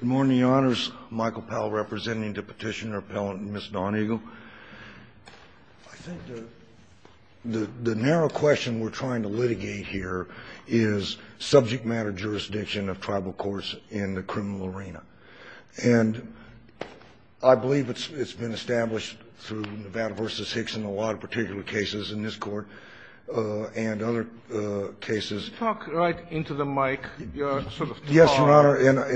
Good morning, your honors. Michael Powell representing the petitioner-appellant Ms. Dawn Eagle. I think the narrow question we're trying to litigate here is subject matter jurisdiction of tribal courts in the criminal arena. And I believe it's been established through Nevada v. Hicks and a lot of particular cases in this court and other cases. Talk right into the mic. Yes, your honor, and I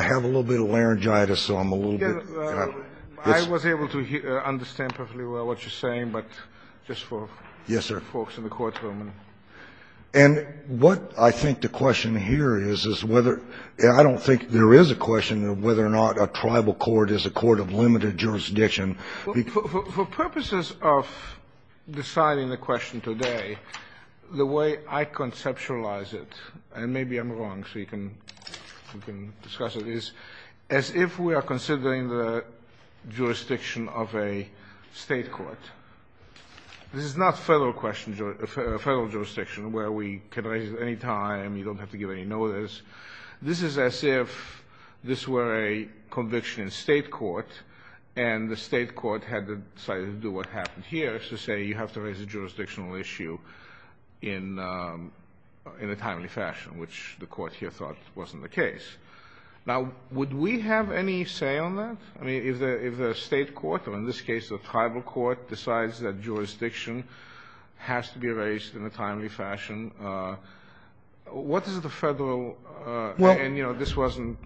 have a little bit of laryngitis, so I'm a little bit. I was able to understand perfectly well what you're saying, but just for folks in the courtroom. And what I think the question here is, is whether I don't think there is a question of whether or not a tribal court is a court of limited jurisdiction. For purposes of deciding the question today, the way I conceptualize it, and maybe I'm wrong so you can discuss it, is as if we are considering the jurisdiction of a state court. This is not federal jurisdiction where we can raise it at any time, you don't have to give any notice. This is as if this were a conviction in state court and the state court had decided to do what happened here, so say you have to raise a jurisdictional issue in a timely fashion, which the court here thought wasn't the case. Now, would we have any say on that? I mean, if the state court, or in this case the tribal court, decides that jurisdiction has to be raised in a timely fashion, what is the federal, and this wasn't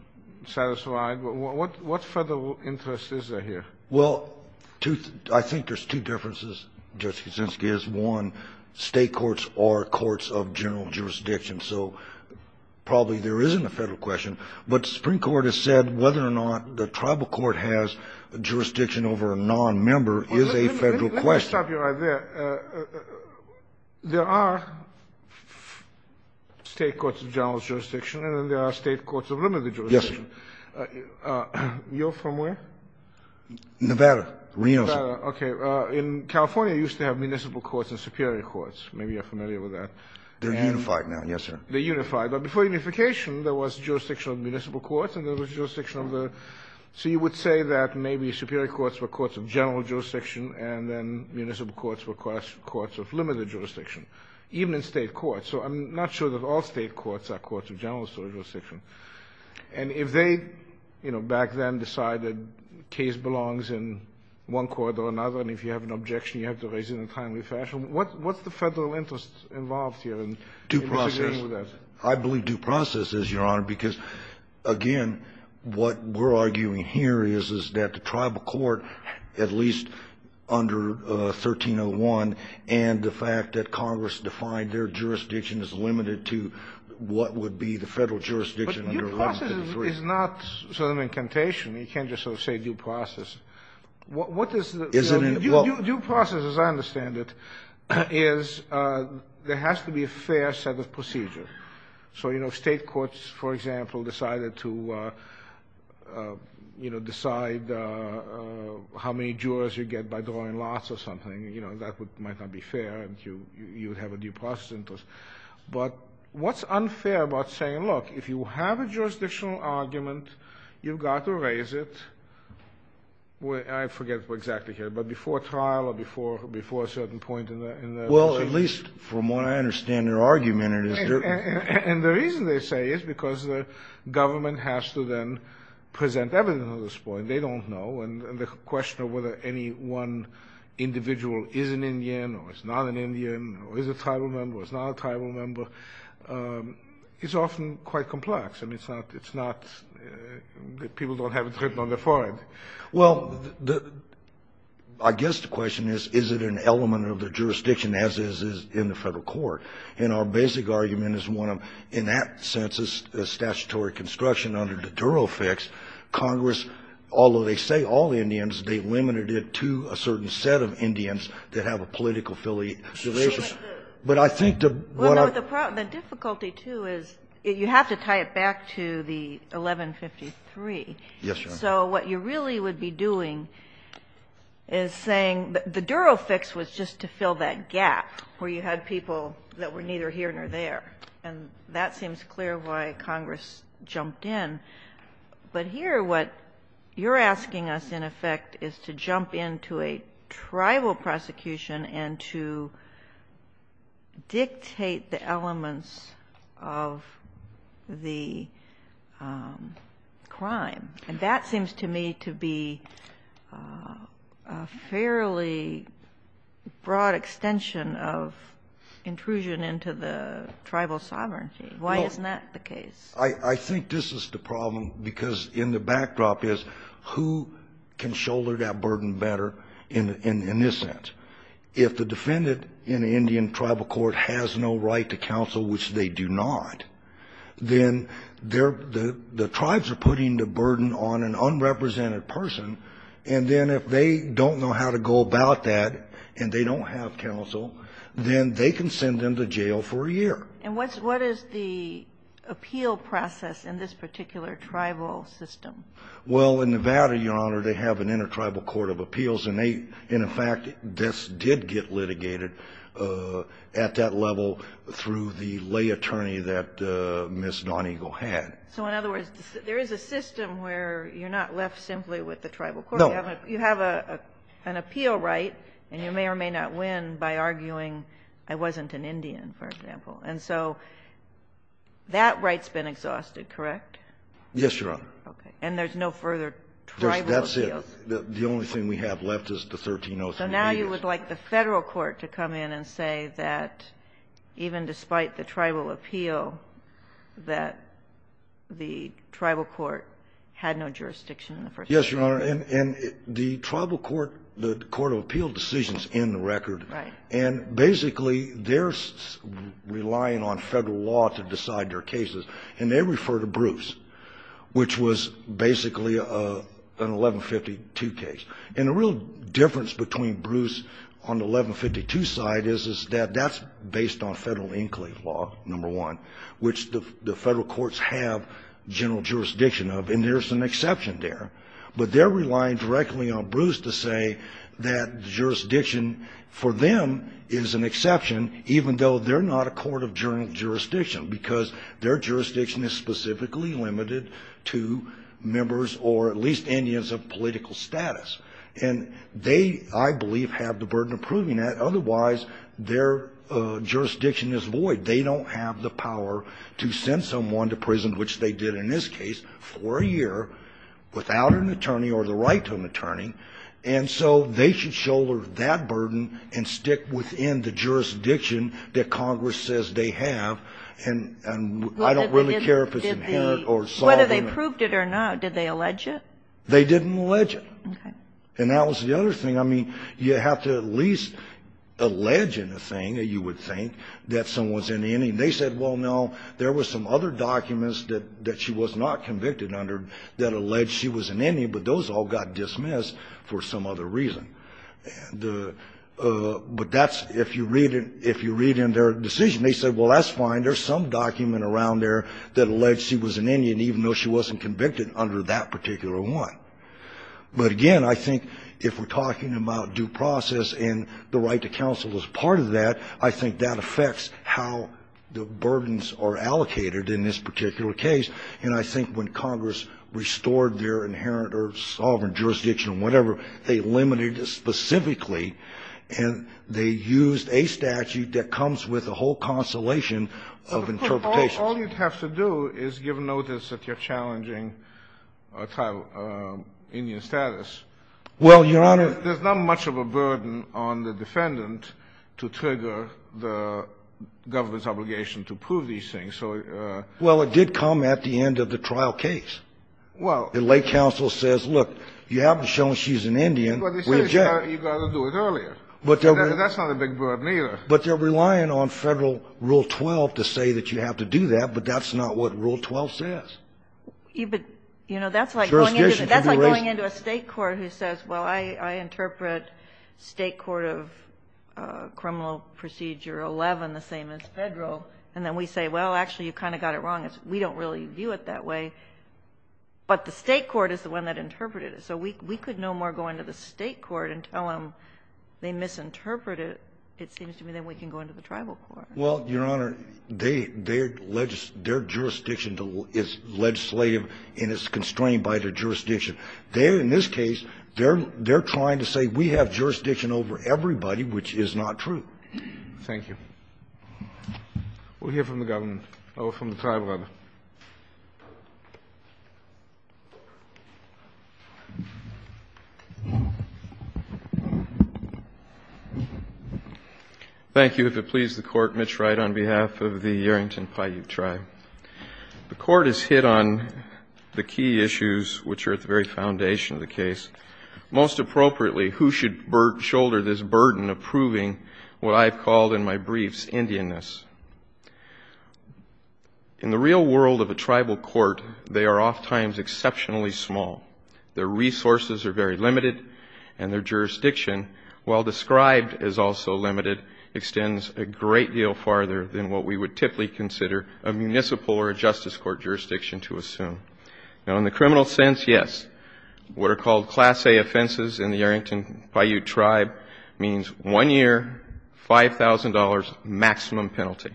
satisfied, what federal interest is there here? Well, I think there's two differences, Judge Kuczynski, is one, state courts are courts of general jurisdiction, so probably there isn't a federal question. But the Supreme Court has said whether or not the tribal court has jurisdiction over a nonmember is a federal question. Let me stop you right there. There are state courts of general jurisdiction and there are state courts of limited jurisdiction. Yes, sir. You're from where? Nevada, Reno, sir. Nevada, okay. In California, you used to have municipal courts and superior courts. Maybe you're familiar with that. They're unified now, yes, sir. They're unified. But before unification, there was jurisdiction of municipal courts and there was jurisdiction of the so you would say that maybe superior courts were courts of general jurisdiction and then municipal courts were courts of limited jurisdiction, even in state courts. So I'm not sure that all state courts are courts of general jurisdiction. And if they, you know, back then decided the case belongs in one court or another and if you have an objection you have to raise it in a timely fashion, what's the federal interest involved here in disagreeing with that? Due process. I believe due process is, Your Honor, because, again, what we're arguing here is that the tribal court, at least under 1301, and the fact that Congress defined their jurisdiction is limited to what would be the federal jurisdiction under 1133. But due process is not sort of an incantation. You can't just sort of say due process. Is it in the book? Due process, as I understand it, is there has to be a fair set of procedures. So, you know, if state courts, for example, decided to, you know, decide how many jurors you get by drawing lots or something, you know, that might not be fair and you would have a due process interest. But what's unfair about saying, look, if you have a jurisdictional argument, you've got to raise it, I forget exactly here, but before trial or before a certain point in the decision. At least from what I understand their argument is. And the reason they say is because the government has to then present evidence on this point. They don't know. And the question of whether any one individual is an Indian or is not an Indian or is a tribal member or is not a tribal member is often quite complex. I mean, it's not, it's not, people don't have it written on their forehead. Well, I guess the question is, is it an element of the jurisdiction as it is in the Federal Court? And our basic argument is one of, in that sense, it's a statutory construction under the Duro fix. Congress, although they say all Indians, they limited it to a certain set of Indians that have a political affiliation. But I think the, what I. The difficulty, too, is you have to tie it back to the 1153. Yes, Your Honor. So what you really would be doing is saying the Duro fix was just to fill that gap where you had people that were neither here nor there. And that seems clear why Congress jumped in. But here what you're asking us, in effect, is to jump into a tribal prosecution and to dictate the elements of the crime. And that seems to me to be a fairly broad extension of intrusion into the tribal sovereignty. No. Why isn't that the case? I think this is the problem, because in the backdrop is who can shoulder that burden better in this sense? If the defendant in the Indian tribal court has no right to counsel, which they do not, then the tribes are putting the burden on an unrepresented person. And then if they don't know how to go about that and they don't have counsel, then they can send them to jail for a year. And what is the appeal process in this particular tribal system? Well, in Nevada, Your Honor, they have an intertribal court of appeals. And in fact, this did get litigated at that level through the lay attorney that Ms. Donegal had. So in other words, there is a system where you're not left simply with the tribal court. No. You have an appeal right, and you may or may not win by arguing I wasn't an Indian, for example. And so that right's been exhausted, correct? Yes, Your Honor. Okay. And there's no further tribal appeals? That's it. The only thing we have left is the 1303. So now you would like the federal court to come in and say that even despite the tribal appeal, that the tribal court had no jurisdiction in the first place? Yes, Your Honor. And the tribal court, the court of appeal decisions in the record. Right. And basically, they're relying on federal law to decide their cases. And they refer to Bruce, which was basically an 1152 case. And the real difference between Bruce on the 1152 side is that that's based on federal enclave law, number one, which the federal courts have general jurisdiction of. And there's an exception there. But they're relying directly on Bruce to say that jurisdiction for them is an exception, even though they're not a court of jurisdiction, because their jurisdiction is specifically limited to members or at least Indians of political status. And they, I believe, have the burden of proving that. Otherwise, their jurisdiction is void. They don't have the power to send someone to prison, which they did in this case, for a year without an attorney or the right to an attorney. And so they should shoulder that burden and stick within the jurisdiction that Congress says they have. And I don't really care if it's inherent or sovereign. Whether they proved it or not, did they allege it? They didn't allege it. Okay. And that was the other thing. I mean, you have to at least allege in a thing, you would think, that someone's an Indian. They said, well, no, there were some other documents that she was not convicted under that alleged she was an Indian, but those all got dismissed for some other reason. But that's, if you read in their decision, they said, well, that's fine. There's some document around there that alleged she was an Indian, even though she wasn't convicted under that particular one. But, again, I think if we're talking about due process and the right to counsel as part of that, I think that affects how the burdens are allocated in this particular case. And I think when Congress restored their inherent or sovereign jurisdiction or whatever, they limited it specifically, and they used a statute that comes with the whole consolation of interpretations. All you'd have to do is give notice that you're challenging Indian status. Well, Your Honor. There's not much of a burden on the defendant to trigger the government's obligation to prove these things. Well, it did come at the end of the trial case. Well. The late counsel says, look, you haven't shown she's an Indian. You've got to do it earlier. That's not a big burden, either. But they're relying on Federal Rule 12 to say that you have to do that. But that's not what Rule 12 says. You know, that's like going into a State court who says, well, I interpret State court of criminal procedure 11 the same as Federal. And then we say, well, actually, you kind of got it wrong. We don't really view it that way. But the State court is the one that interpreted it. So we could no more go into the State court and tell them they misinterpreted it than we can go into the tribal court. Well, Your Honor, their jurisdiction is legislative and is constrained by their jurisdiction. They're, in this case, they're trying to say we have jurisdiction over everybody, which is not true. Thank you. We'll hear from the government. I'll go from the tribal level. Thank you. If it pleases the Court, Mitch Wright on behalf of the Arrington Paiute Tribe. The Court is hit on the key issues which are at the very foundation of the case. Most appropriately, who should shoulder this burden of proving what I have called in my briefs Indianness? In the real world of a tribal court, they are oftentimes exceptionally small. Their resources are very limited, and their jurisdiction, while described as also limited, extends a great deal farther than what we would typically consider a municipal or a justice court jurisdiction to assume. Now, in the criminal sense, yes, what are called Class A offenses in the Arrington Paiute Tribe means one year, $5,000 maximum penalty.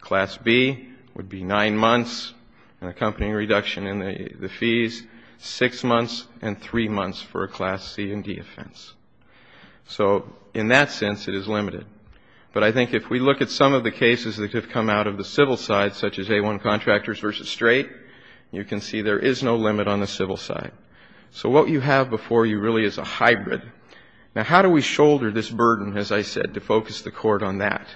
Class B would be nine months, an accompanying reduction in the fees, six months, and three months for a Class C and D offense. So in that sense, it is limited. But I think if we look at some of the cases that have come out of the civil side, such as A1 Contractors v. Strait, you can see there is no limit on the civil side. So what you have before you really is a hybrid. Now, how do we shoulder this burden, as I said, to focus the Court on that?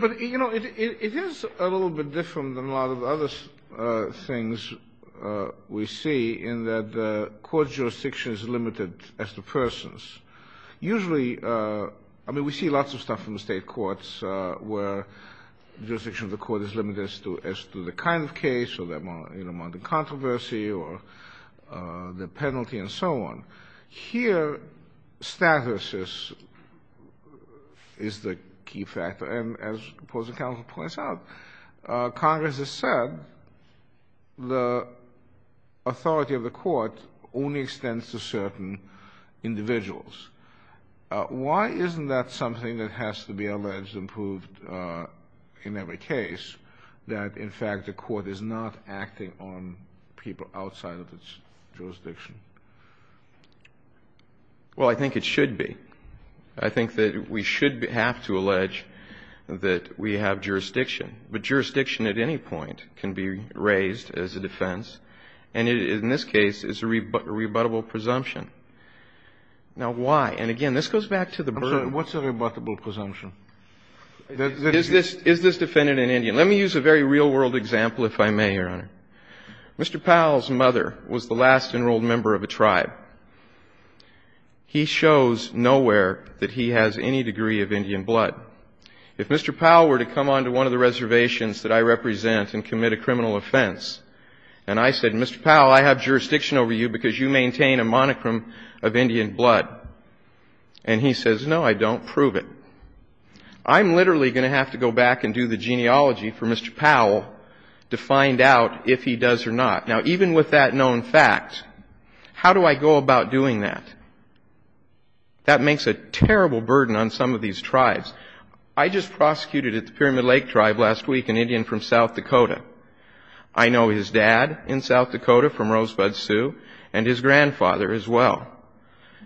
But, you know, it is a little bit different than a lot of other things we see in that the court jurisdiction is limited as to persons. Usually, I mean, we see lots of stuff in the State courts where the jurisdiction of the court is limited as to the kind of case or the amount of controversy or the penalty and so on. Here, status is the key factor. And as the opposing counsel points out, Congress has said the authority of the court only extends to certain individuals. Why isn't that something that has to be alleged and proved in every case, that in fact the court is not acting on people outside of its jurisdiction? Well, I think it should be. I think that we should have to allege that we have jurisdiction. But jurisdiction at any point can be raised as a defense. And in this case, it's a rebuttable presumption. Now, why? And again, this goes back to the burden. I'm sorry. What's a rebuttable presumption? Is this defendant an Indian? Let me use a very real-world example, if I may, Your Honor. Mr. Powell's mother was the last enrolled member of a tribe. He shows nowhere that he has any degree of Indian blood. If Mr. Powell were to come onto one of the reservations that I represent and commit a criminal offense, and I said, Mr. Powell, I have jurisdiction over you because you maintain a monochrome of Indian blood. And he says, no, I don't prove it. I'm literally going to have to go back and do the genealogy for Mr. Powell to find out if he does or not. Now, even with that known fact, how do I go about doing that? That makes a terrible burden on some of these tribes. I just prosecuted at the Pyramid Lake Tribe last week an Indian from South Dakota. I know his dad in South Dakota from Rosebud Sioux and his grandfather as well.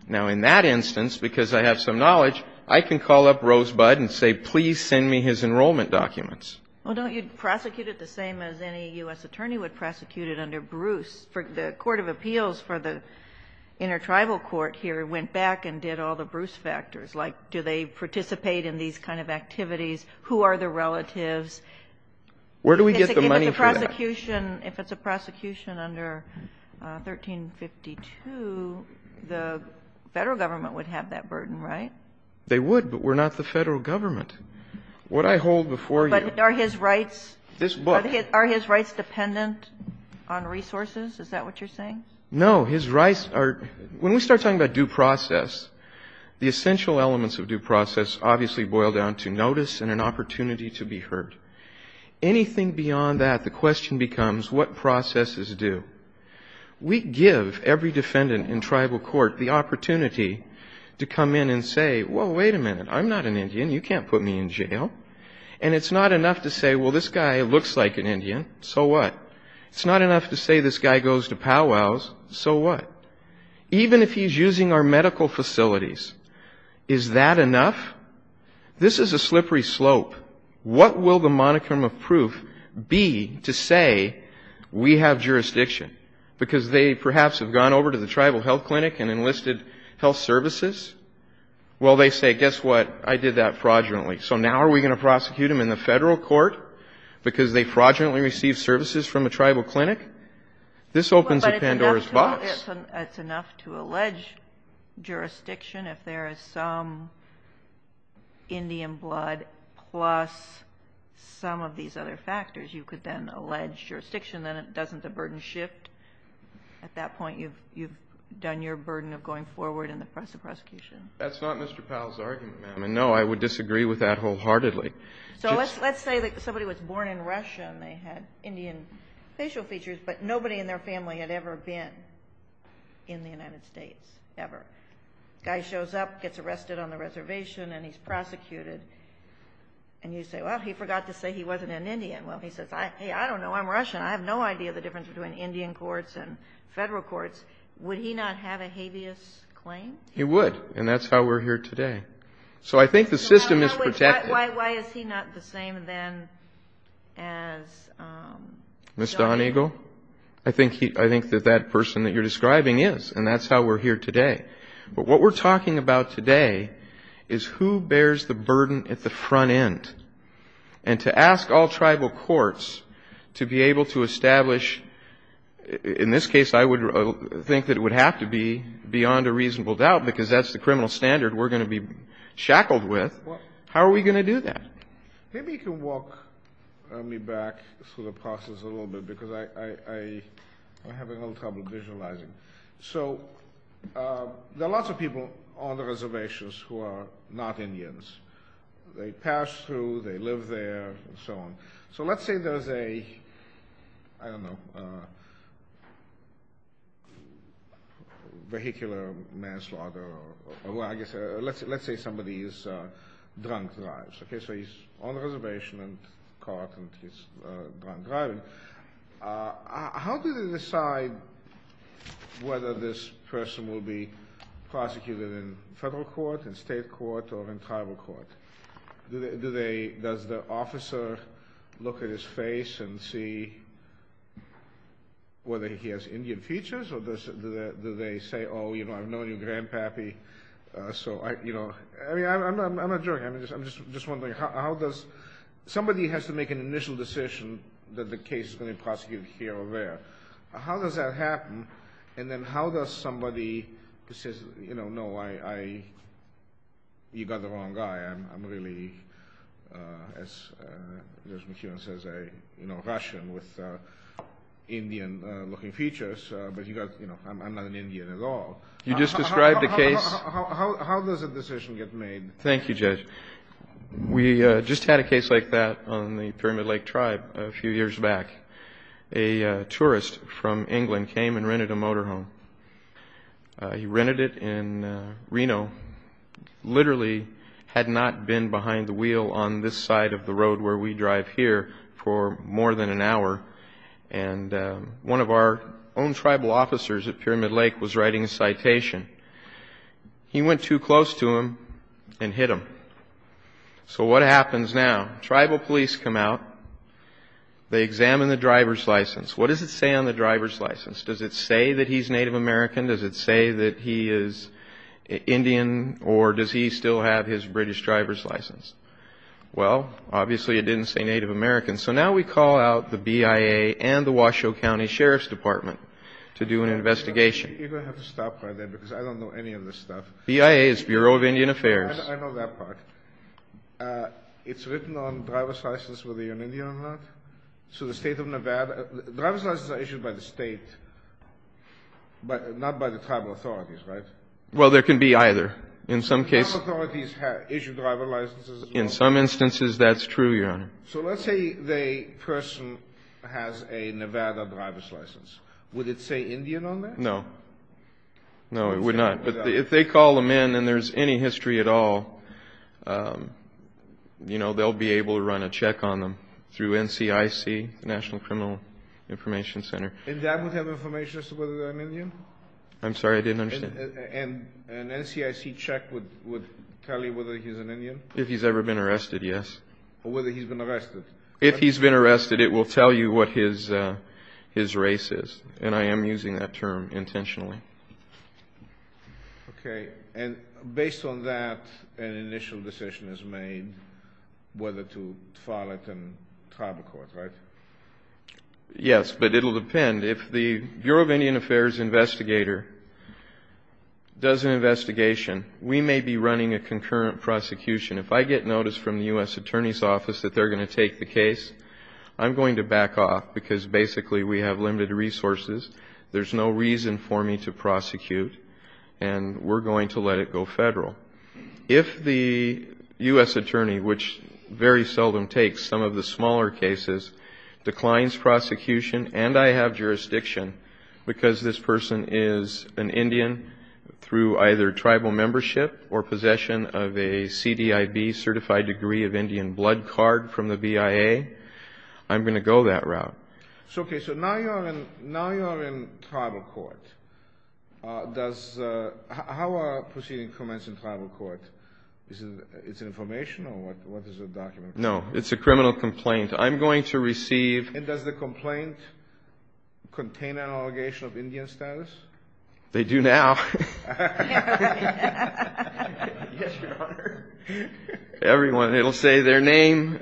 Now, in that instance, because I have some knowledge, I can call up Rosebud and say, please send me his enrollment documents. Well, don't you prosecute it the same as any U.S. attorney would prosecute it under Bruce? The Court of Appeals for the Intertribal Court here went back and did all the Bruce factors, like do they participate in these kind of activities, who are their relatives. Where do we get the money for that? If it's a prosecution under 1352, the Federal Government would have that burden, right? They would, but we're not the Federal Government. What I hold before you are his rights. This book. Are his rights dependent on resources? Is that what you're saying? No. His rights are – when we start talking about due process, the essential elements of due process obviously boil down to notice and an opportunity to be heard. Anything beyond that, the question becomes, what processes do? We give every defendant in tribal court the opportunity to come in and say, well, wait a minute, I'm not an Indian. You can't put me in jail. And it's not enough to say, well, this guy looks like an Indian. So what? It's not enough to say this guy goes to powwows. So what? Even if he's using our medical facilities, is that enough? This is a slippery slope. What will the moniker of proof be to say we have jurisdiction? Because they perhaps have gone over to the tribal health clinic and enlisted health services. Well, they say, guess what, I did that fraudulently. So now are we going to prosecute him in the federal court because they fraudulently received services from a tribal clinic? This opens a Pandora's box. It's enough to allege jurisdiction if there is some Indian blood plus some of these other factors. You could then allege jurisdiction. Then doesn't the burden shift? At that point, you've done your burden of going forward in the process of prosecution. That's not Mr. Powell's argument, ma'am. And, no, I would disagree with that wholeheartedly. So let's say that somebody was born in Russia and they had Indian facial features, but nobody in their family had ever been in the United States, ever. Guy shows up, gets arrested on the reservation, and he's prosecuted. And you say, well, he forgot to say he wasn't an Indian. Well, he says, hey, I don't know, I'm Russian. I have no idea the difference between Indian courts and federal courts. Would he not have a habeas claim? He would, and that's how we're here today. So I think the system is protected. Why is he not the same then as Don Eagle? Mr. Don Eagle? I think that that person that you're describing is, and that's how we're here today. But what we're talking about today is who bears the burden at the front end. And to ask all tribal courts to be able to establish, in this case, I would think that it would have to be beyond a reasonable doubt, because that's the criminal standard we're going to be shackled with. How are we going to do that? Maybe you can walk me back through the process a little bit, because I'm having a little trouble visualizing. So there are lots of people on the reservations who are not Indians. They pass through, they live there, and so on. So let's say there's a, I don't know, vehicular manslaughter, or let's say somebody is drunk driving. So he's on the reservation and caught, and he's drunk driving. How do they decide whether this person will be prosecuted in federal court, in state court, or in tribal court? Does the officer look at his face and see whether he has Indian features, or do they say, oh, you know, I've known you, Grandpappy. So, you know, I'm not joking. I'm just wondering how does somebody has to make an initial decision that the case is going to be prosecuted here or there. How does that happen? And then how does somebody say, you know, no, you've got the wrong guy. I'm really, as Judge McKeown says, a Russian with Indian-looking features, but, you know, I'm not an Indian at all. You just described a case. How does a decision get made? Thank you, Judge. We just had a case like that on the Pyramid Lake Tribe a few years back. A tourist from England came and rented a motorhome. He rented it in Reno, literally had not been behind the wheel on this side of the road where we drive here for more than an hour. And one of our own tribal officers at Pyramid Lake was writing a citation. He went too close to him and hit him. So what happens now? Tribal police come out. They examine the driver's license. What does it say on the driver's license? Does it say that he's Native American? Does it say that he is Indian? Or does he still have his British driver's license? Well, obviously it didn't say Native American. So now we call out the BIA and the Washoe County Sheriff's Department to do an investigation. You're going to have to stop right there because I don't know any of this stuff. BIA is Bureau of Indian Affairs. I know that part. It's written on driver's license whether you're an Indian or not. So the state of Nevada, driver's licenses are issued by the state, but not by the tribal authorities, right? Well, there can be either in some cases. Tribal authorities issue driver licenses as well. In some instances, that's true, Your Honor. So let's say the person has a Nevada driver's license. Would it say Indian on that? No. No, it would not. But if they call them in and there's any history at all, they'll be able to run a check on them through NCIC, National Criminal Information Center. And that would have information as to whether they're an Indian? I'm sorry, I didn't understand. And an NCIC check would tell you whether he's an Indian? If he's ever been arrested, yes. Or whether he's been arrested. If he's been arrested, it will tell you what his race is. And I am using that term intentionally. Okay. And based on that, an initial decision is made whether to file it in tribal court, right? Yes, but it will depend. If the Bureau of Indian Affairs investigator does an investigation, we may be running a concurrent prosecution. If I get notice from the U.S. Attorney's Office that they're going to take the case, I'm going to back off because basically we have limited resources. There's no reason for me to prosecute. And we're going to let it go federal. If the U.S. Attorney, which very seldom takes some of the smaller cases, declines prosecution, and I have jurisdiction because this person is an Indian through either tribal membership or possession of a CDIB certified degree of Indian blood card from the BIA, I'm going to go that route. Okay, so now you're in tribal court. How are proceeding commenced in tribal court? Is it information or what is the document? No, it's a criminal complaint. I'm going to receive. And does the complaint contain an allegation of Indian status? They do now. Yes, Your Honor. Everyone, it will say their name.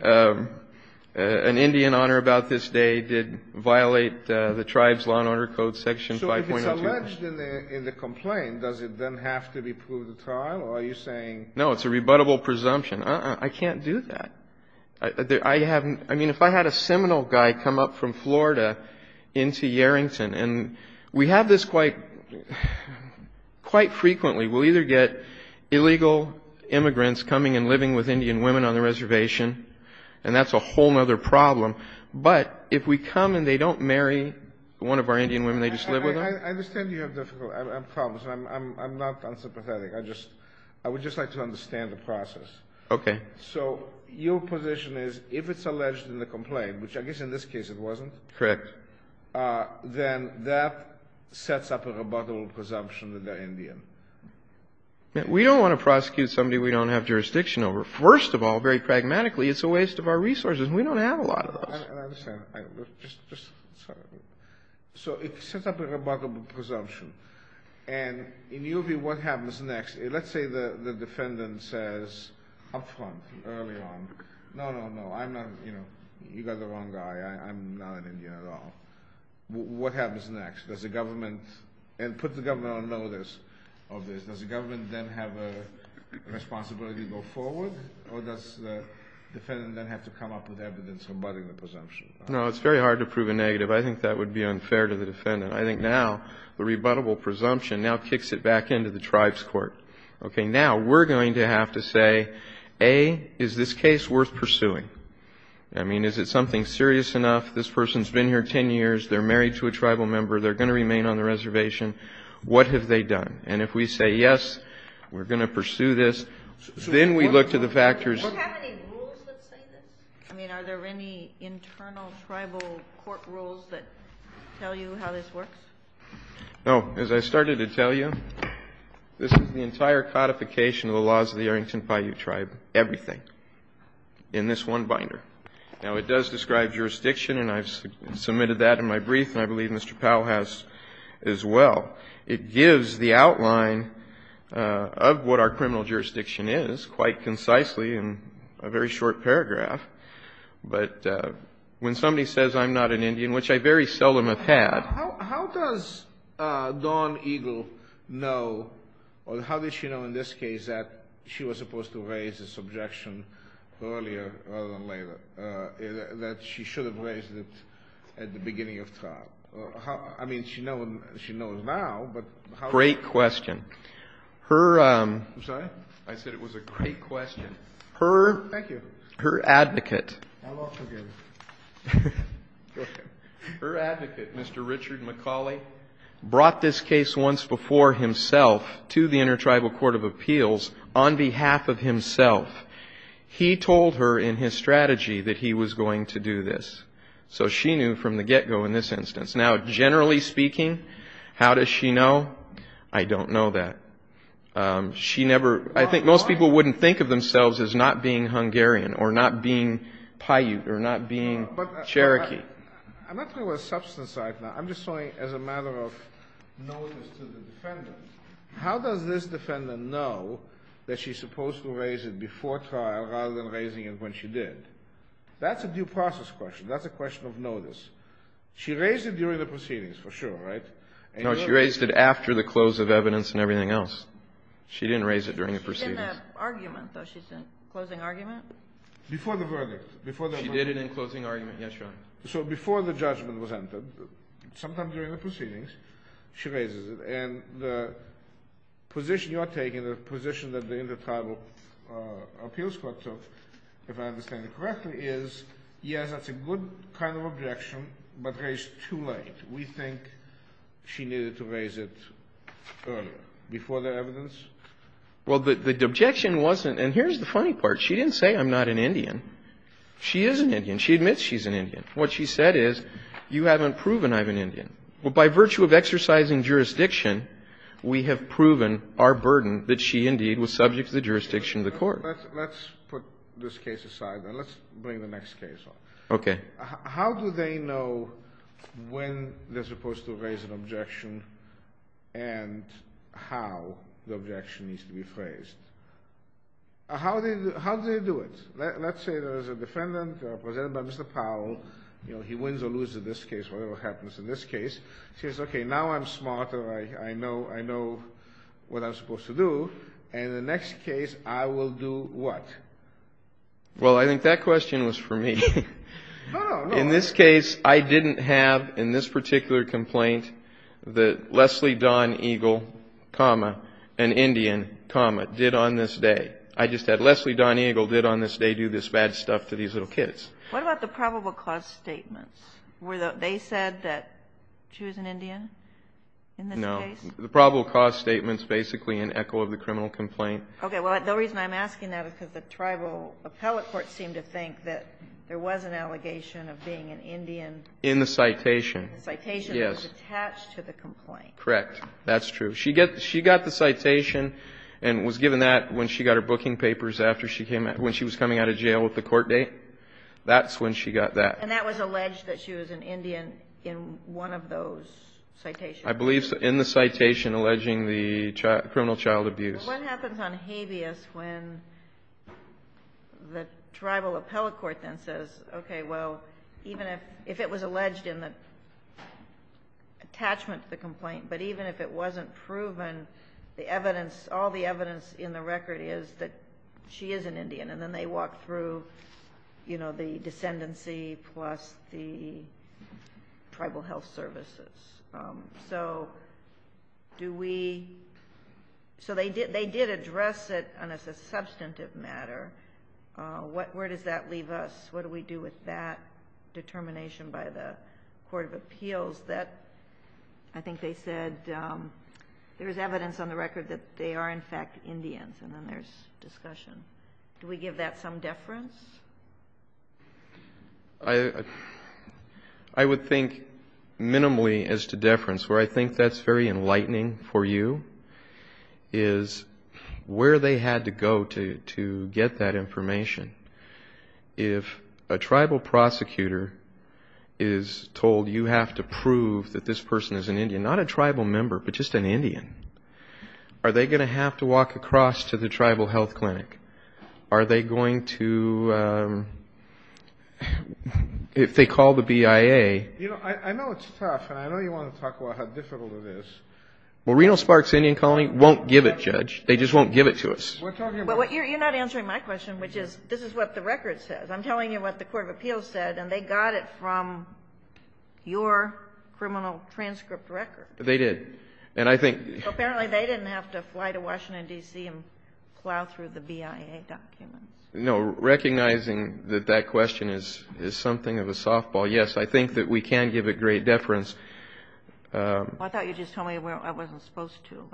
An Indian honor about this day did violate the tribe's law and order code section 5.02. So if it's alleged in the complaint, does it then have to be proved at trial or are you saying? No, it's a rebuttable presumption. I can't do that. I mean, if I had a seminal guy come up from Florida into Yarrington, and we have this quite frequently, we'll either get illegal immigrants coming and living with Indian women on the reservation, and that's a whole other problem, but if we come and they don't marry one of our Indian women, they just live with them? I understand you have problems. I'm not unsympathetic. I would just like to understand the process. Okay. So your position is if it's alleged in the complaint, which I guess in this case it wasn't. Correct. Then that sets up a rebuttable presumption that they're Indian. We don't want to prosecute somebody we don't have jurisdiction over. First of all, very pragmatically, it's a waste of our resources. We don't have a lot of those. I understand. Just sorry. So it sets up a rebuttable presumption. And in your view, what happens next? Let's say the defendant says up front, early on, no, no, no, I'm not, you know, you got the wrong guy. I'm not an Indian at all. What happens next? Does the government, and put the government on notice of this, does the government then have a responsibility to go forward, or does the defendant then have to come up with evidence rebutting the presumption? No, it's very hard to prove a negative. I think that would be unfair to the defendant. I think now the rebuttable presumption now kicks it back into the tribe's court. Okay. Now we're going to have to say, A, is this case worth pursuing? I mean, is it something serious enough? This person's been here 10 years. They're married to a tribal member. They're going to remain on the reservation. What have they done? And if we say, yes, we're going to pursue this, then we look to the factors. Do you have any rules that say this? I mean, are there any internal tribal court rules that tell you how this works? No. As I started to tell you, this is the entire codification of the laws of the Arrington Paiute tribe, everything in this one binder. Now, it does describe jurisdiction, and I've submitted that in my brief, and I believe Mr. Powell has as well. It gives the outline of what our criminal jurisdiction is quite concisely in a very short paragraph. But when somebody says I'm not an Indian, which I very seldom have had. How does Dawn Eagle know, or how did she know in this case, that she was supposed to raise this objection earlier rather than later, that she should have raised it at the beginning of trial? I mean, she knows now, but how does she know? Great question. I'm sorry? I said it was a great question. Thank you. Her advocate. I'll also give it. Her advocate, Mr. Richard McCauley, brought this case once before himself to the Intertribal Court of Appeals on behalf of himself. He told her in his strategy that he was going to do this. So she knew from the get-go in this instance. Now, generally speaking, how does she know? I don't know that. She never, I think most people wouldn't think of themselves as not being Hungarian or not being Paiute or not being Cherokee. I'm not talking about substance right now. I'm just saying as a matter of notice to the defendant, how does this defendant know that she's supposed to raise it before trial rather than raising it when she did? That's a due process question. That's a question of notice. She raised it during the proceedings, for sure, right? No, she raised it after the close of evidence and everything else. She didn't raise it during the proceedings. In the argument, though, she said. Closing argument? Before the verdict. She did it in closing argument, yes, Your Honor. So before the judgment was entered, sometimes during the proceedings, she raises it. And the position you're taking, the position that the Intertribal Appeals Court took, if I understand it correctly, is, yes, that's a good kind of objection, but raised too late. We think she needed to raise it earlier, before the evidence. Well, the objection wasn't. And here's the funny part. She didn't say I'm not an Indian. She is an Indian. She admits she's an Indian. What she said is, you haven't proven I'm an Indian. But by virtue of exercising jurisdiction, we have proven our burden that she indeed was subject to the jurisdiction of the court. Let's put this case aside. And let's bring the next case on. Okay. How do they know when they're supposed to raise an objection and how the objection needs to be phrased? How do they do it? Let's say there's a defendant presented by Mr. Powell. He wins or loses in this case, whatever happens in this case. She says, okay, now I'm smarter. I know what I'm supposed to do. And in the next case, I will do what? Well, I think that question was for me. In this case, I didn't have in this particular complaint that Leslie Dawn Eagle, an Indian, did on this day. I just had Leslie Dawn Eagle did on this day do this bad stuff to these little kids. What about the probable cause statements? Were they said that she was an Indian in this case? No. The probable cause statement is basically an echo of the criminal complaint. Okay. Well, the reason I'm asking that is because the tribal appellate court seemed to think that there was an allegation of being an Indian. In the citation. In the citation. Yes. It was attached to the complaint. Correct. That's true. She got the citation and was given that when she got her booking papers after she came out, when she was coming out of jail with the court date. That's when she got that. And that was alleged that she was an Indian in one of those citations. I believe so. In the citation alleging the criminal child abuse. What happens on habeas when the tribal appellate court then says, okay, well, even if it was alleged in the attachment to the complaint, but even if it wasn't proven, the evidence, all the evidence in the record is that she is an Indian. And then they walk through, you know, the descendancy plus the tribal health services. So they did address it as a substantive matter. Where does that leave us? What do we do with that determination by the court of appeals? I think they said there's evidence on the record that they are, in fact, Indians. And then there's discussion. Do we give that some deference? I would think minimally as to deference. Where I think that's very enlightening for you is where they had to go to get that information. If a tribal prosecutor is told you have to prove that this person is an Indian, not a tribal member, but just an Indian, are they going to have to walk across to the tribal health clinic? Are they going to, if they call the BIA? You know, I know it's tough, and I know you want to talk about how difficult it is. Well, Reno-Sparks Indian Colony won't give it, Judge. They just won't give it to us. You're not answering my question, which is, this is what the record says. I'm telling you what the court of appeals said, and they got it from your criminal transcript record. They did. And I think they didn't have to fly to Washington, D.C., and plow through the BIA. No, recognizing that that question is something of a softball. Yes, I think that we can give it great deference. I thought you just told me where I wasn't supposed to.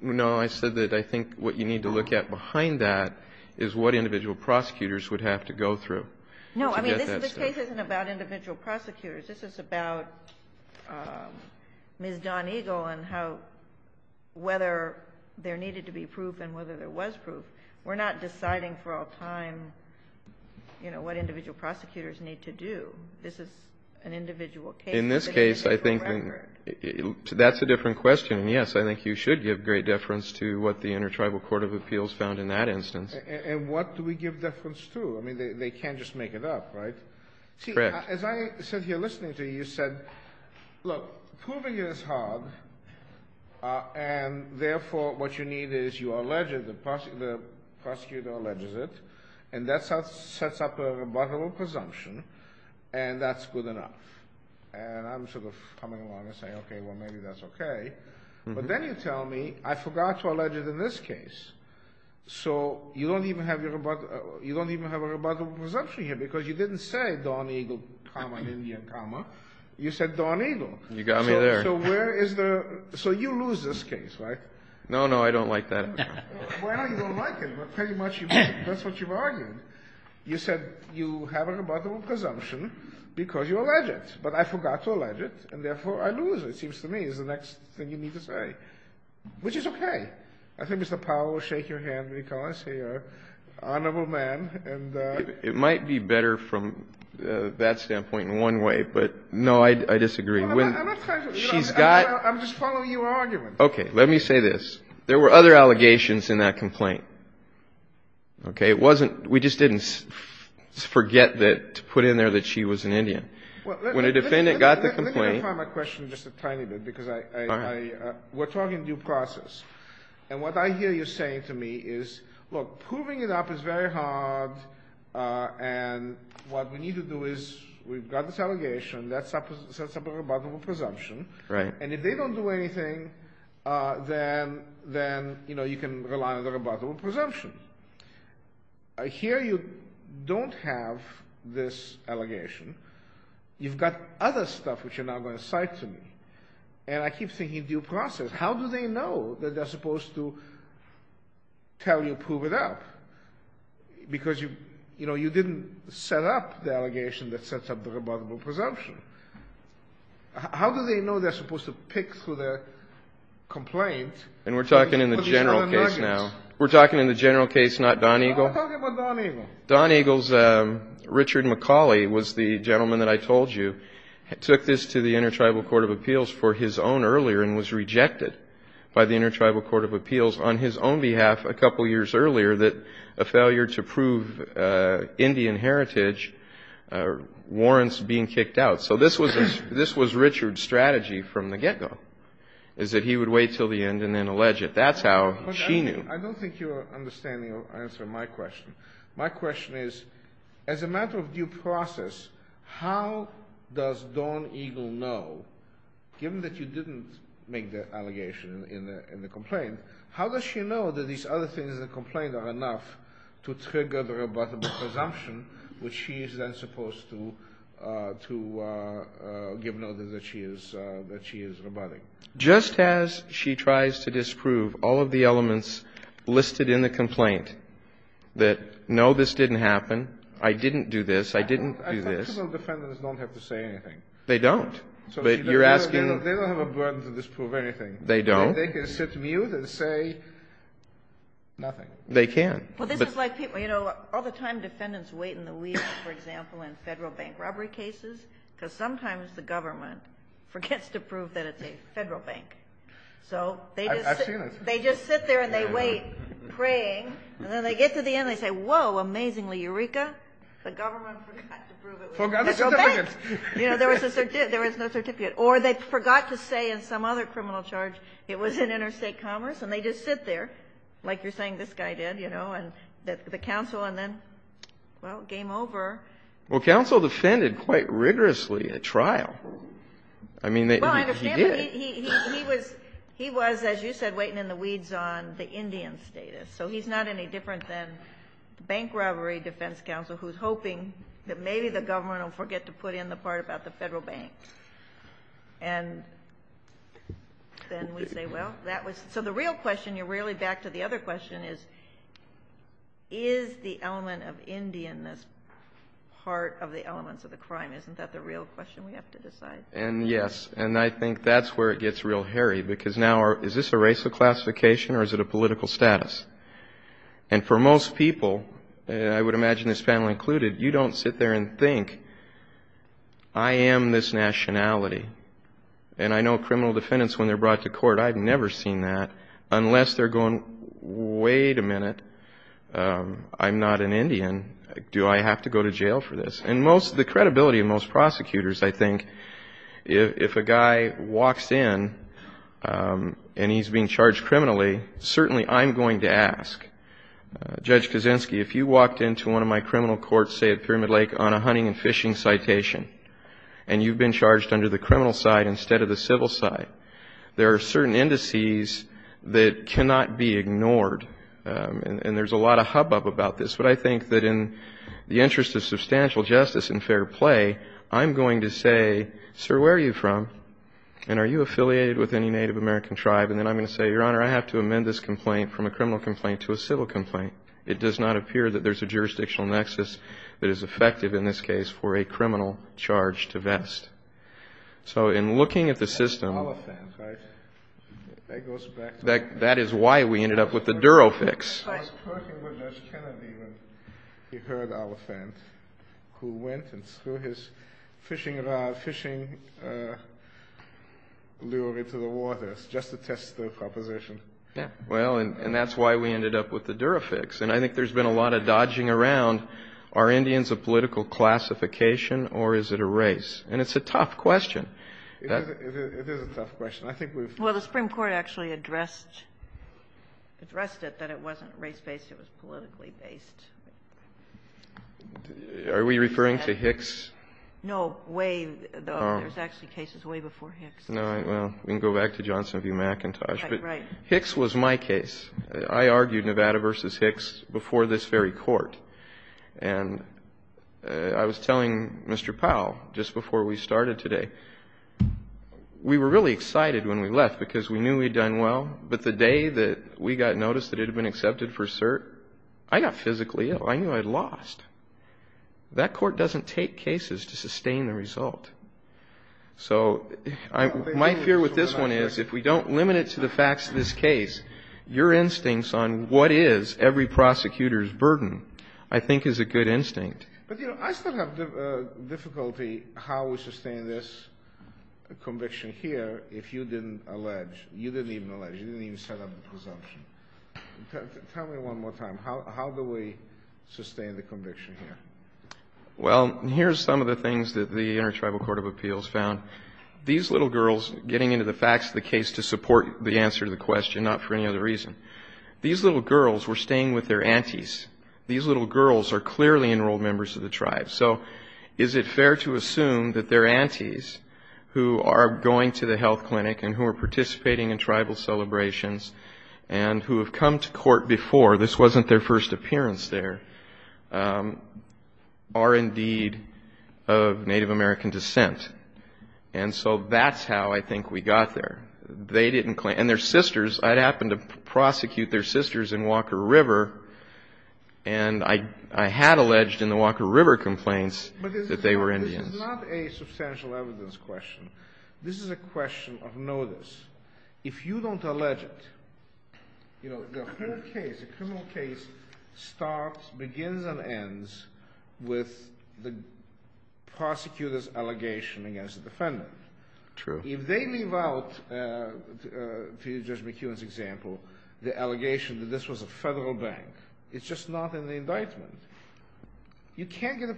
No, I said that I think what you need to look at behind that is what individual prosecutors would have to go through. No, I mean, this case isn't about individual prosecutors. This is about Ms. Don Eagle and how whether there needed to be proof and whether there was proof. We're not deciding for all time, you know, what individual prosecutors need to do. This is an individual case. In this case, I think that's a different question. And, yes, I think you should give great deference to what the intertribal court of appeals found in that instance. And what do we give deference to? I mean, they can't just make it up, right? Correct. As I sit here listening to you, you said, look, proving it is hard and, therefore, what you need is you allege it. The prosecutor alleges it, and that sets up a rebuttable presumption, and that's good enough. And I'm sort of coming along and saying, okay, well, maybe that's okay. But then you tell me I forgot to allege it in this case. So you don't even have a rebuttable presumption here because you didn't say Don Eagle, comma, India, comma. You said Don Eagle. You got me there. So where is the ‑‑ so you lose this case, right? No, no, I don't like that. Well, you don't like it, but pretty much that's what you've argued. You said you have a rebuttable presumption because you allege it, but I forgot to allege it, and, therefore, I lose it, it seems to me, is the next thing you need to say, which is okay. I think Mr. Powell will shake your hand because he's an honorable man. It might be better from that standpoint in one way, but, no, I disagree. I'm just following your argument. Okay. Let me say this. There were other allegations in that complaint. Okay? It wasn't ‑‑ we just didn't forget to put in there that she was an Indian. When a defendant got the complaint ‑‑ Let me refine my question just a tiny bit because I ‑‑ All right. We're talking due process, and what I hear you saying to me is, look, proving it up is very hard, and what we need to do is we've got this allegation, that sets up a rebuttable presumption. Right. And if they don't do anything, then, you know, you can rely on the rebuttable presumption. I hear you don't have this allegation. You've got other stuff which you're now going to cite to me, and I keep thinking due process. How do they know that they're supposed to tell you, prove it up, because, you know, you didn't set up the allegation that sets up the rebuttable presumption. How do they know they're supposed to pick through their complaint? And we're talking in the general case now. We're talking in the general case, not Don Eagle. I'm talking about Don Eagle. Don Eagle's Richard McCauley was the gentleman that I told you took this to the Intertribal Court of Appeals for his own earlier and was rejected by the Intertribal Court of Appeals on his own behalf a couple years earlier that a failure to prove Indian heritage warrants being kicked out. So this was Richard's strategy from the get‑go, is that he would wait until the end and then allege it. That's how she knew. I don't think your understanding will answer my question. My question is, as a matter of due process, how does Don Eagle know, given that you didn't make the allegation in the complaint, how does she know that these other things in the complaint are enough to trigger the rebuttable presumption, which she is then supposed to give notice that she is rebutting? Just as she tries to disprove all of the elements listed in the complaint that, no, this didn't happen, I didn't do this, I didn't do this. I thought criminal defendants don't have to say anything. They don't. But you're asking ‑‑ They don't have a burden to disprove anything. They don't. They can sit mute and say nothing. They can. All the time defendants wait in the weeds, for example, in Federal Bank robbery cases, because sometimes the government forgets to prove that it's a Federal Bank. I've seen it. They just sit there and they wait, praying, and then they get to the end and they say, whoa, amazingly, Eureka, the government forgot to prove it was a Federal Bank. Forgot the certificate. There was no certificate. Or they forgot to say in some other criminal charge it was an interstate commerce, and they just sit there, like you're saying this guy did, you know, and the counsel, and then, well, game over. Well, counsel defended quite rigorously at trial. I mean, he did. Well, I understand, but he was, as you said, waiting in the weeds on the Indian status. So he's not any different than bank robbery defense counsel who's hoping that maybe the government will forget to put in the part about the Federal Bank. And then we say, well, that was so the real question, you're really back to the other question is, is the element of Indianness part of the elements of the crime? Isn't that the real question we have to decide? And, yes, and I think that's where it gets real hairy, because now is this a racial classification or is it a political status? And for most people, I would imagine this panel included, you don't sit there and think, I am this nationality. And I know criminal defendants, when they're brought to court, I've never seen that, unless they're going, wait a minute, I'm not an Indian. Do I have to go to jail for this? And the credibility of most prosecutors, I think, if a guy walks in and he's being charged criminally, certainly I'm going to ask. Judge Kaczynski, if you walked into one of my criminal courts, say, at Pyramid Lake on a hunting and fishing citation, and you've been charged under the criminal side instead of the civil side, there are certain indices that cannot be ignored. And there's a lot of hubbub about this. But I think that in the interest of substantial justice and fair play, I'm going to say, sir, where are you from? And are you affiliated with any Native American tribe? And then I'm going to say, your Honor, I have to amend this complaint from a criminal complaint to a civil complaint. It does not appear that there's a jurisdictional nexus that is effective in this case for a criminal charge to vest. So in looking at the system, that is why we ended up with the Duro fix. I was talking with Judge Kennedy when he heard Oliphant, who went and threw his fishing lure into the water just to test the proposition. Yeah, well, and that's why we ended up with the Duro fix. And I think there's been a lot of dodging around, are Indians a political classification or is it a race? And it's a tough question. It is a tough question. Well, the Supreme Court actually addressed it, that it wasn't race-based, it was politically based. Are we referring to Hicks? No, there's actually cases way before Hicks. Well, we can go back to Johnson v. McIntosh. But Hicks was my case. I argued Nevada v. Hicks before this very court. And I was telling Mr. Powell just before we started today, we were really excited when we left because we knew we'd done well. But the day that we got notice that it had been accepted for cert, I got physically ill. I knew I'd lost. That court doesn't take cases to sustain the result. So my fear with this one is if we don't limit it to the facts of this case, your instincts on what is every prosecutor's burden I think is a good instinct. But, you know, I still have difficulty how we sustain this conviction here if you didn't allege. You didn't even allege. You didn't even set up the presumption. Tell me one more time. How do we sustain the conviction here? Well, here's some of the things that the Intertribal Court of Appeals found. These little girls, getting into the facts of the case to support the answer to the question, not for any other reason. These little girls were staying with their aunties. These little girls are clearly enrolled members of the tribe. So is it fair to assume that they're aunties who are going to the health clinic and who are participating in tribal celebrations and who have come to court before? This wasn't their first appearance there. Are indeed of Native American descent. And so that's how I think we got there. And their sisters, I happened to prosecute their sisters in Walker River, and I had alleged in the Walker River complaints that they were Indians. But this is not a substantial evidence question. This is a question of notice. If you don't allege it, the whole case, the criminal case, starts, begins, and ends with the prosecutor's allegation against the defendant. If they leave out, to Judge McKeown's example, the allegation that this was a federal bank, it's just not in the indictment. You can't get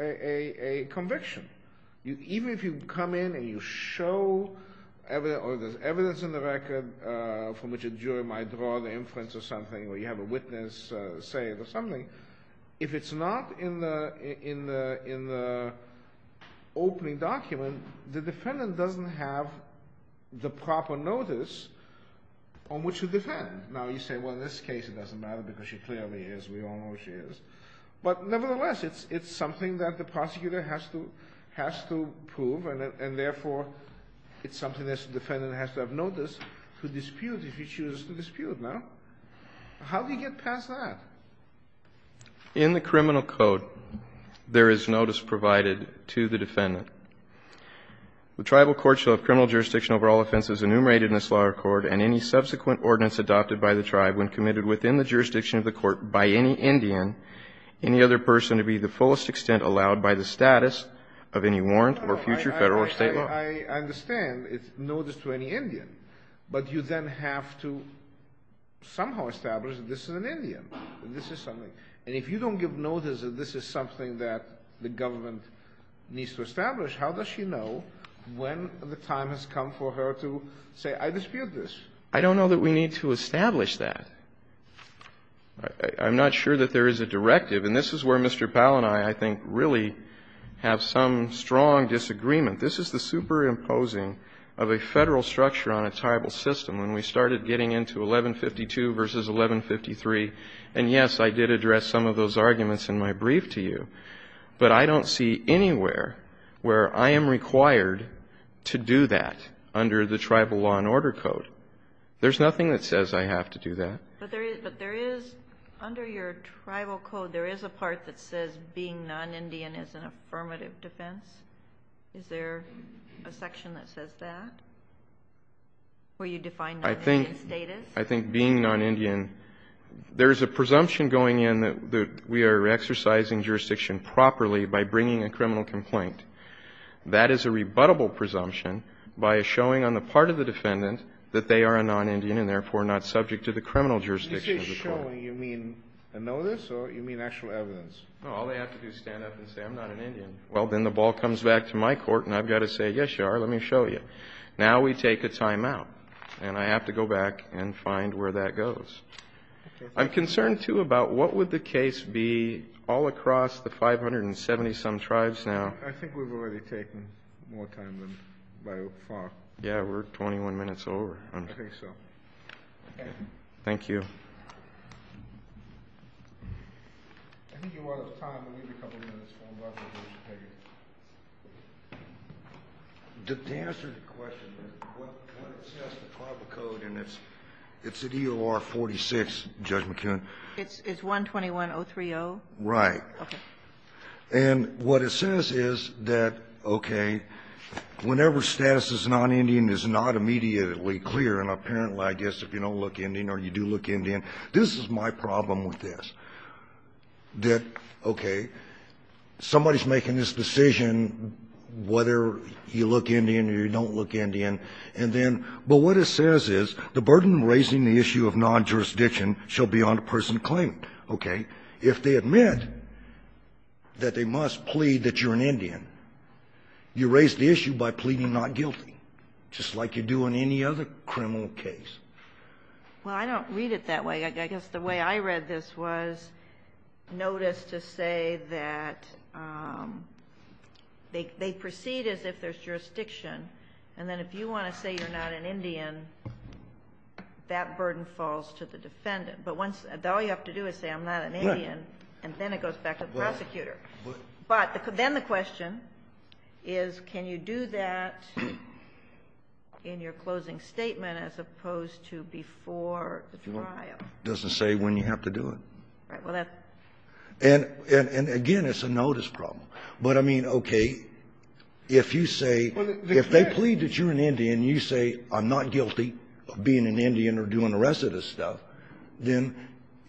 a conviction. Even if you come in and you show, or there's evidence in the record from which a jury might draw the inference or something, or you have a witness say it or something, if it's not in the opening document, the defendant doesn't have the proper notice on which to defend. Now you say, well in this case it doesn't matter because she clearly is, we all know she is. But nevertheless, it's something that the prosecutor has to prove, and therefore it's something that the defendant has to have notice to dispute if he chooses to dispute. Now, how do you get past that? In the criminal code, there is notice provided to the defendant. The tribal court shall have criminal jurisdiction over all offenses enumerated in this law record, and any subsequent ordinance adopted by the tribe when committed within the jurisdiction of the court by any Indian, any other person to be the fullest extent allowed by the status of any warrant or future federal or state law. I understand. It's notice to any Indian. But you then have to somehow establish that this is an Indian, that this is something. And if you don't give notice that this is something that the government needs to establish, how does she know when the time has come for her to say, I dispute this? I don't know that we need to establish that. I'm not sure that there is a directive. And this is where Mr. Powell and I, I think, really have some strong disagreement. This is the superimposing of a Federal structure on a tribal system. When we started getting into 1152 v. 1153, and yes, I did address some of those arguments in my brief to you, but I don't see anywhere where I am required to do that under the tribal law and order code. There's nothing that says I have to do that. But under your tribal code, there is a part that says being non-Indian is an affirmative defense. Is there a section that says that, where you define non-Indian status? I think being non-Indian, there is a presumption going in that we are exercising jurisdiction properly by bringing a criminal complaint. That is a rebuttable presumption by a showing on the part of the defendant that they are a non-Indian and therefore not subject to the criminal jurisdiction of the court. When you say showing, you mean a notice or you mean actual evidence? No, all they have to do is stand up and say, I'm not an Indian. Well, then the ball comes back to my court, and I've got to say, yes, you are. Let me show you. Now we take a time-out, and I have to go back and find where that goes. I'm concerned, too, about what would the case be all across the 570-some tribes now. I think we've already taken more time than by far. Yeah, we're 21 minutes over. I think so. Thank you. I think you're out of time, but we have a couple of minutes. To answer the question, what it says, the tribal code, and it's at EOR 46, Judge McKeon. It's 121030? Right. Okay. And what it says is that, okay, whenever status is non-Indian is not immediately clear, and apparently, I guess, if you don't look Indian or you do look Indian, this is my problem with this, that, okay, somebody is making this decision, whether you look Indian or you don't look Indian, and then, but what it says is, the burden of raising the issue of non-jurisdiction shall be on the person claiming it, okay? If they admit that they must plead that you're an Indian, you raise the issue by pleading not guilty, just like you do on any other criminal case. Well, I don't read it that way. I guess the way I read this was notice to say that they proceed as if there's jurisdiction, and then if you want to say you're not an Indian, that burden falls to the defendant. But all you have to do is say, I'm not an Indian, and then it goes back to the prosecutor. But then the question is, can you do that in your closing statement as opposed to before the trial? It doesn't say when you have to do it. And again, it's a notice problem. But I mean, okay, if you say, if they plead that you're an Indian, you say, I'm not guilty of being an Indian or doing the rest of this stuff, then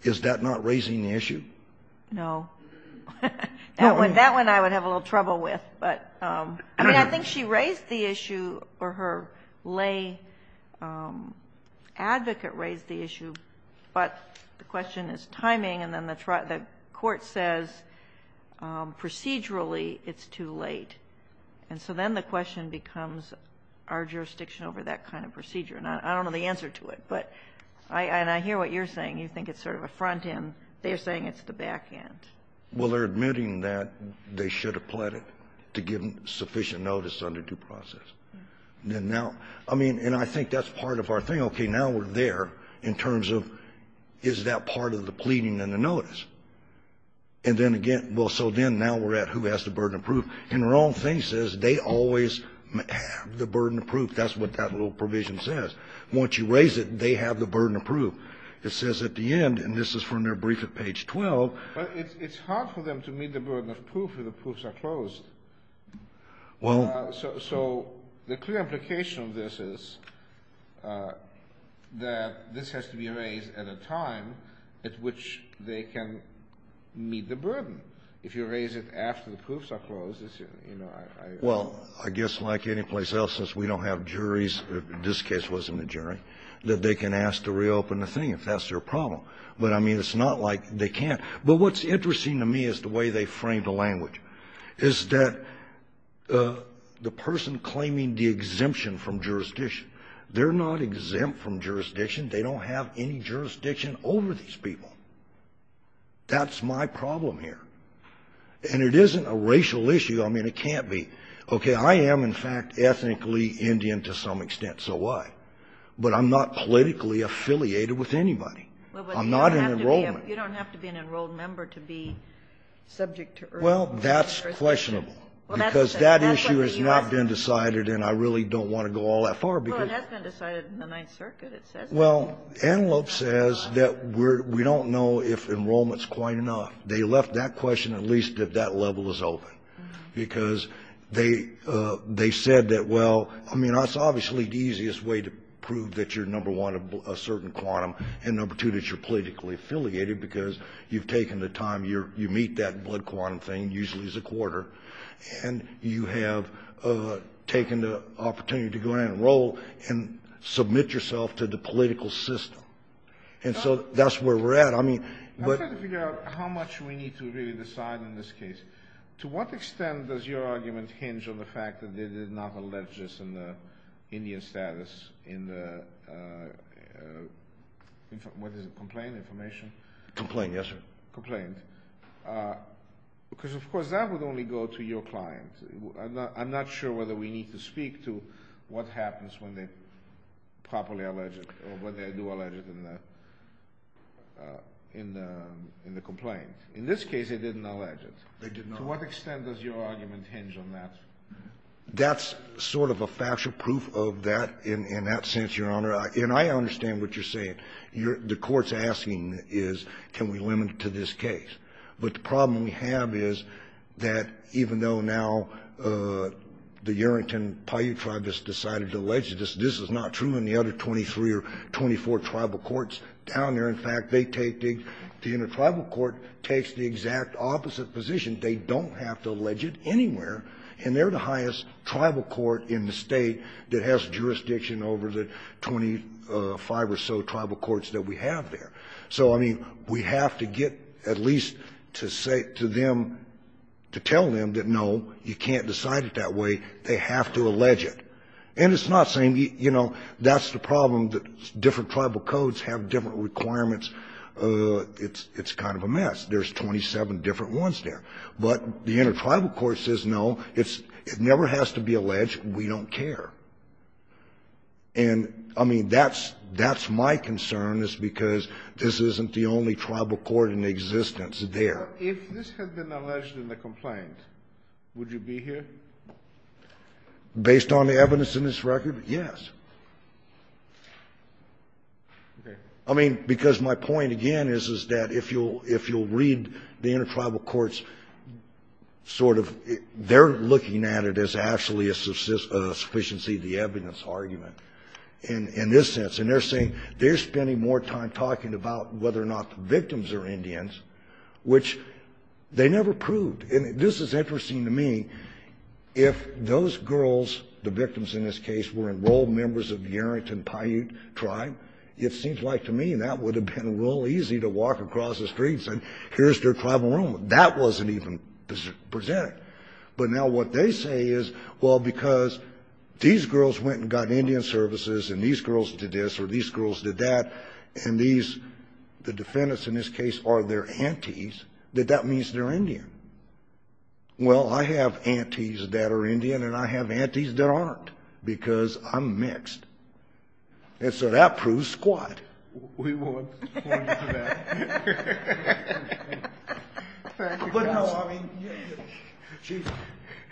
is that not raising the issue? No. That one I would have a little trouble with. But I mean, I think she raised the issue, or her lay advocate raised the issue, but the question is timing, and then the court says procedurally it's too late. And so then the question becomes, are jurisdiction over that kind of procedure? And I don't know the answer to it. But I hear what you're saying. You think it's sort of a front end. They're saying it's the back end. Well, they're admitting that they should have pleaded to give sufficient notice under due process. And now, I mean, and I think that's part of our thing. Okay, now we're there in terms of is that part of the pleading and the notice. And then again, well, so then now we're at who has the burden of proof. And the wrong thing says they always have the burden of proof. That's what that little provision says. Once you raise it, they have the burden of proof. It says at the end, and this is from their brief at page 12. But it's hard for them to meet the burden of proof if the proofs are closed. Well. So the clear implication of this is that this has to be raised at a time at which they can meet the burden. If you raise it after the proofs are closed, it's, you know, I don't know. Well, I guess like anyplace else, since we don't have juries, this case wasn't a jury, that they can ask to reopen the thing if that's their problem. But, I mean, it's not like they can't. But what's interesting to me is the way they framed the language, is that the person claiming the exemption from jurisdiction, they're not exempt from jurisdiction. They don't have any jurisdiction over these people. That's my problem here. And it isn't a racial issue. I mean, it can't be. Okay, I am, in fact, ethnically Indian to some extent. So what? But I'm not politically affiliated with anybody. I'm not an enrollment. Well, but you don't have to be an enrolled member to be subject to urgent jurisdiction. Well, that's questionable. Because that issue has not been decided, and I really don't want to go all that far because Well, it has been decided in the Ninth Circuit, it says so. Well, Antelope says that we don't know if enrollment's quite enough. They left that question at least if that level is open. Because they said that, well, I mean, that's obviously the easiest way to prove that you're number one, a certain quantum, and number two, that you're politically affiliated, because you've taken the time. You meet that blood quantum thing, usually it's a quarter. And you have taken the opportunity to go in and enroll and submit yourself to the political system. And so that's where we're at. I mean, but I'm trying to figure out how much we need to really decide in this case. To what extent does your argument hinge on the fact that they did not allege this in the Indian status, in the, what is it, complaint information? Complaint, yes, sir. Complaint. Because, of course, that would only go to your client. I'm not sure whether we need to speak to what happens when they properly allege it, or when they do allege it in the complaint. In this case, they didn't allege it. They did not. To what extent does your argument hinge on that? That's sort of a factual proof of that in that sense, Your Honor. And I understand what you're saying. The Court's asking is can we limit it to this case. But the problem we have is that even though now the Urington Paiute tribe has decided to allege this, this is not true in the other 23 or 24 tribal courts down there. In fact, they take the, the intertribal court takes the exact opposite position. They don't have to allege it anywhere. And they're the highest tribal court in the State that has jurisdiction over the 25 or so tribal courts that we have there. So, I mean, we have to get at least to say to them, to tell them that, no, you can't decide it that way. They have to allege it. And it's not saying, you know, that's the problem that different tribal codes have different requirements. It's kind of a mess. There's 27 different ones there. But the intertribal court says, no, it's, it never has to be alleged. We don't care. And, I mean, that's, that's my concern is because this isn't the only tribal court in existence there. If this had been alleged in the complaint, would you be here? Based on the evidence in this record? Yes. I mean, because my point, again, is, is that if you'll, if you'll read the intertribal courts, sort of, they're looking at it as actually a sufficiency of the evidence argument in, in this sense. And they're saying, they're spending more time talking about whether or not the victims are Indians, which they never proved. And this is interesting to me. If those girls, the victims in this case, were enrolled members of the Arrington Paiute tribe, it seems like to me that would have been real easy to walk across the streets and here's their tribal rumor. That wasn't even presented. But now what they say is, well, because these girls went and got Indian services, and these girls did this, or these girls did that, and these, the defendants in this case, are their aunties, that that means they're Indian. Well, I have aunties that are Indian, and I have aunties that aren't, because I'm mixed. And so that proves squat. We won't point to that. Thank you, counsel. But, no, I mean,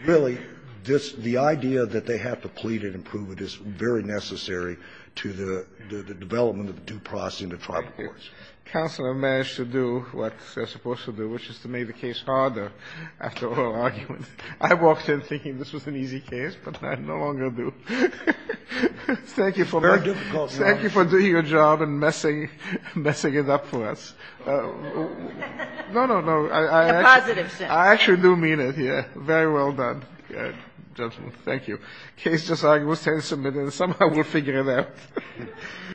really, this, the idea that they have to plead it and prove it is very necessary to the, to the development of due process in the tribal courts. Counsel have managed to do what they're supposed to do, which is to make the case harder after oral arguments. I walked in thinking this was an easy case, but I no longer do. Thank you for doing your job and messing, messing it up for us. No, no, no. I actually do mean it here. Very well done, gentlemen. Thank you. The case just arguably stands submitted, and somehow we'll figure it out.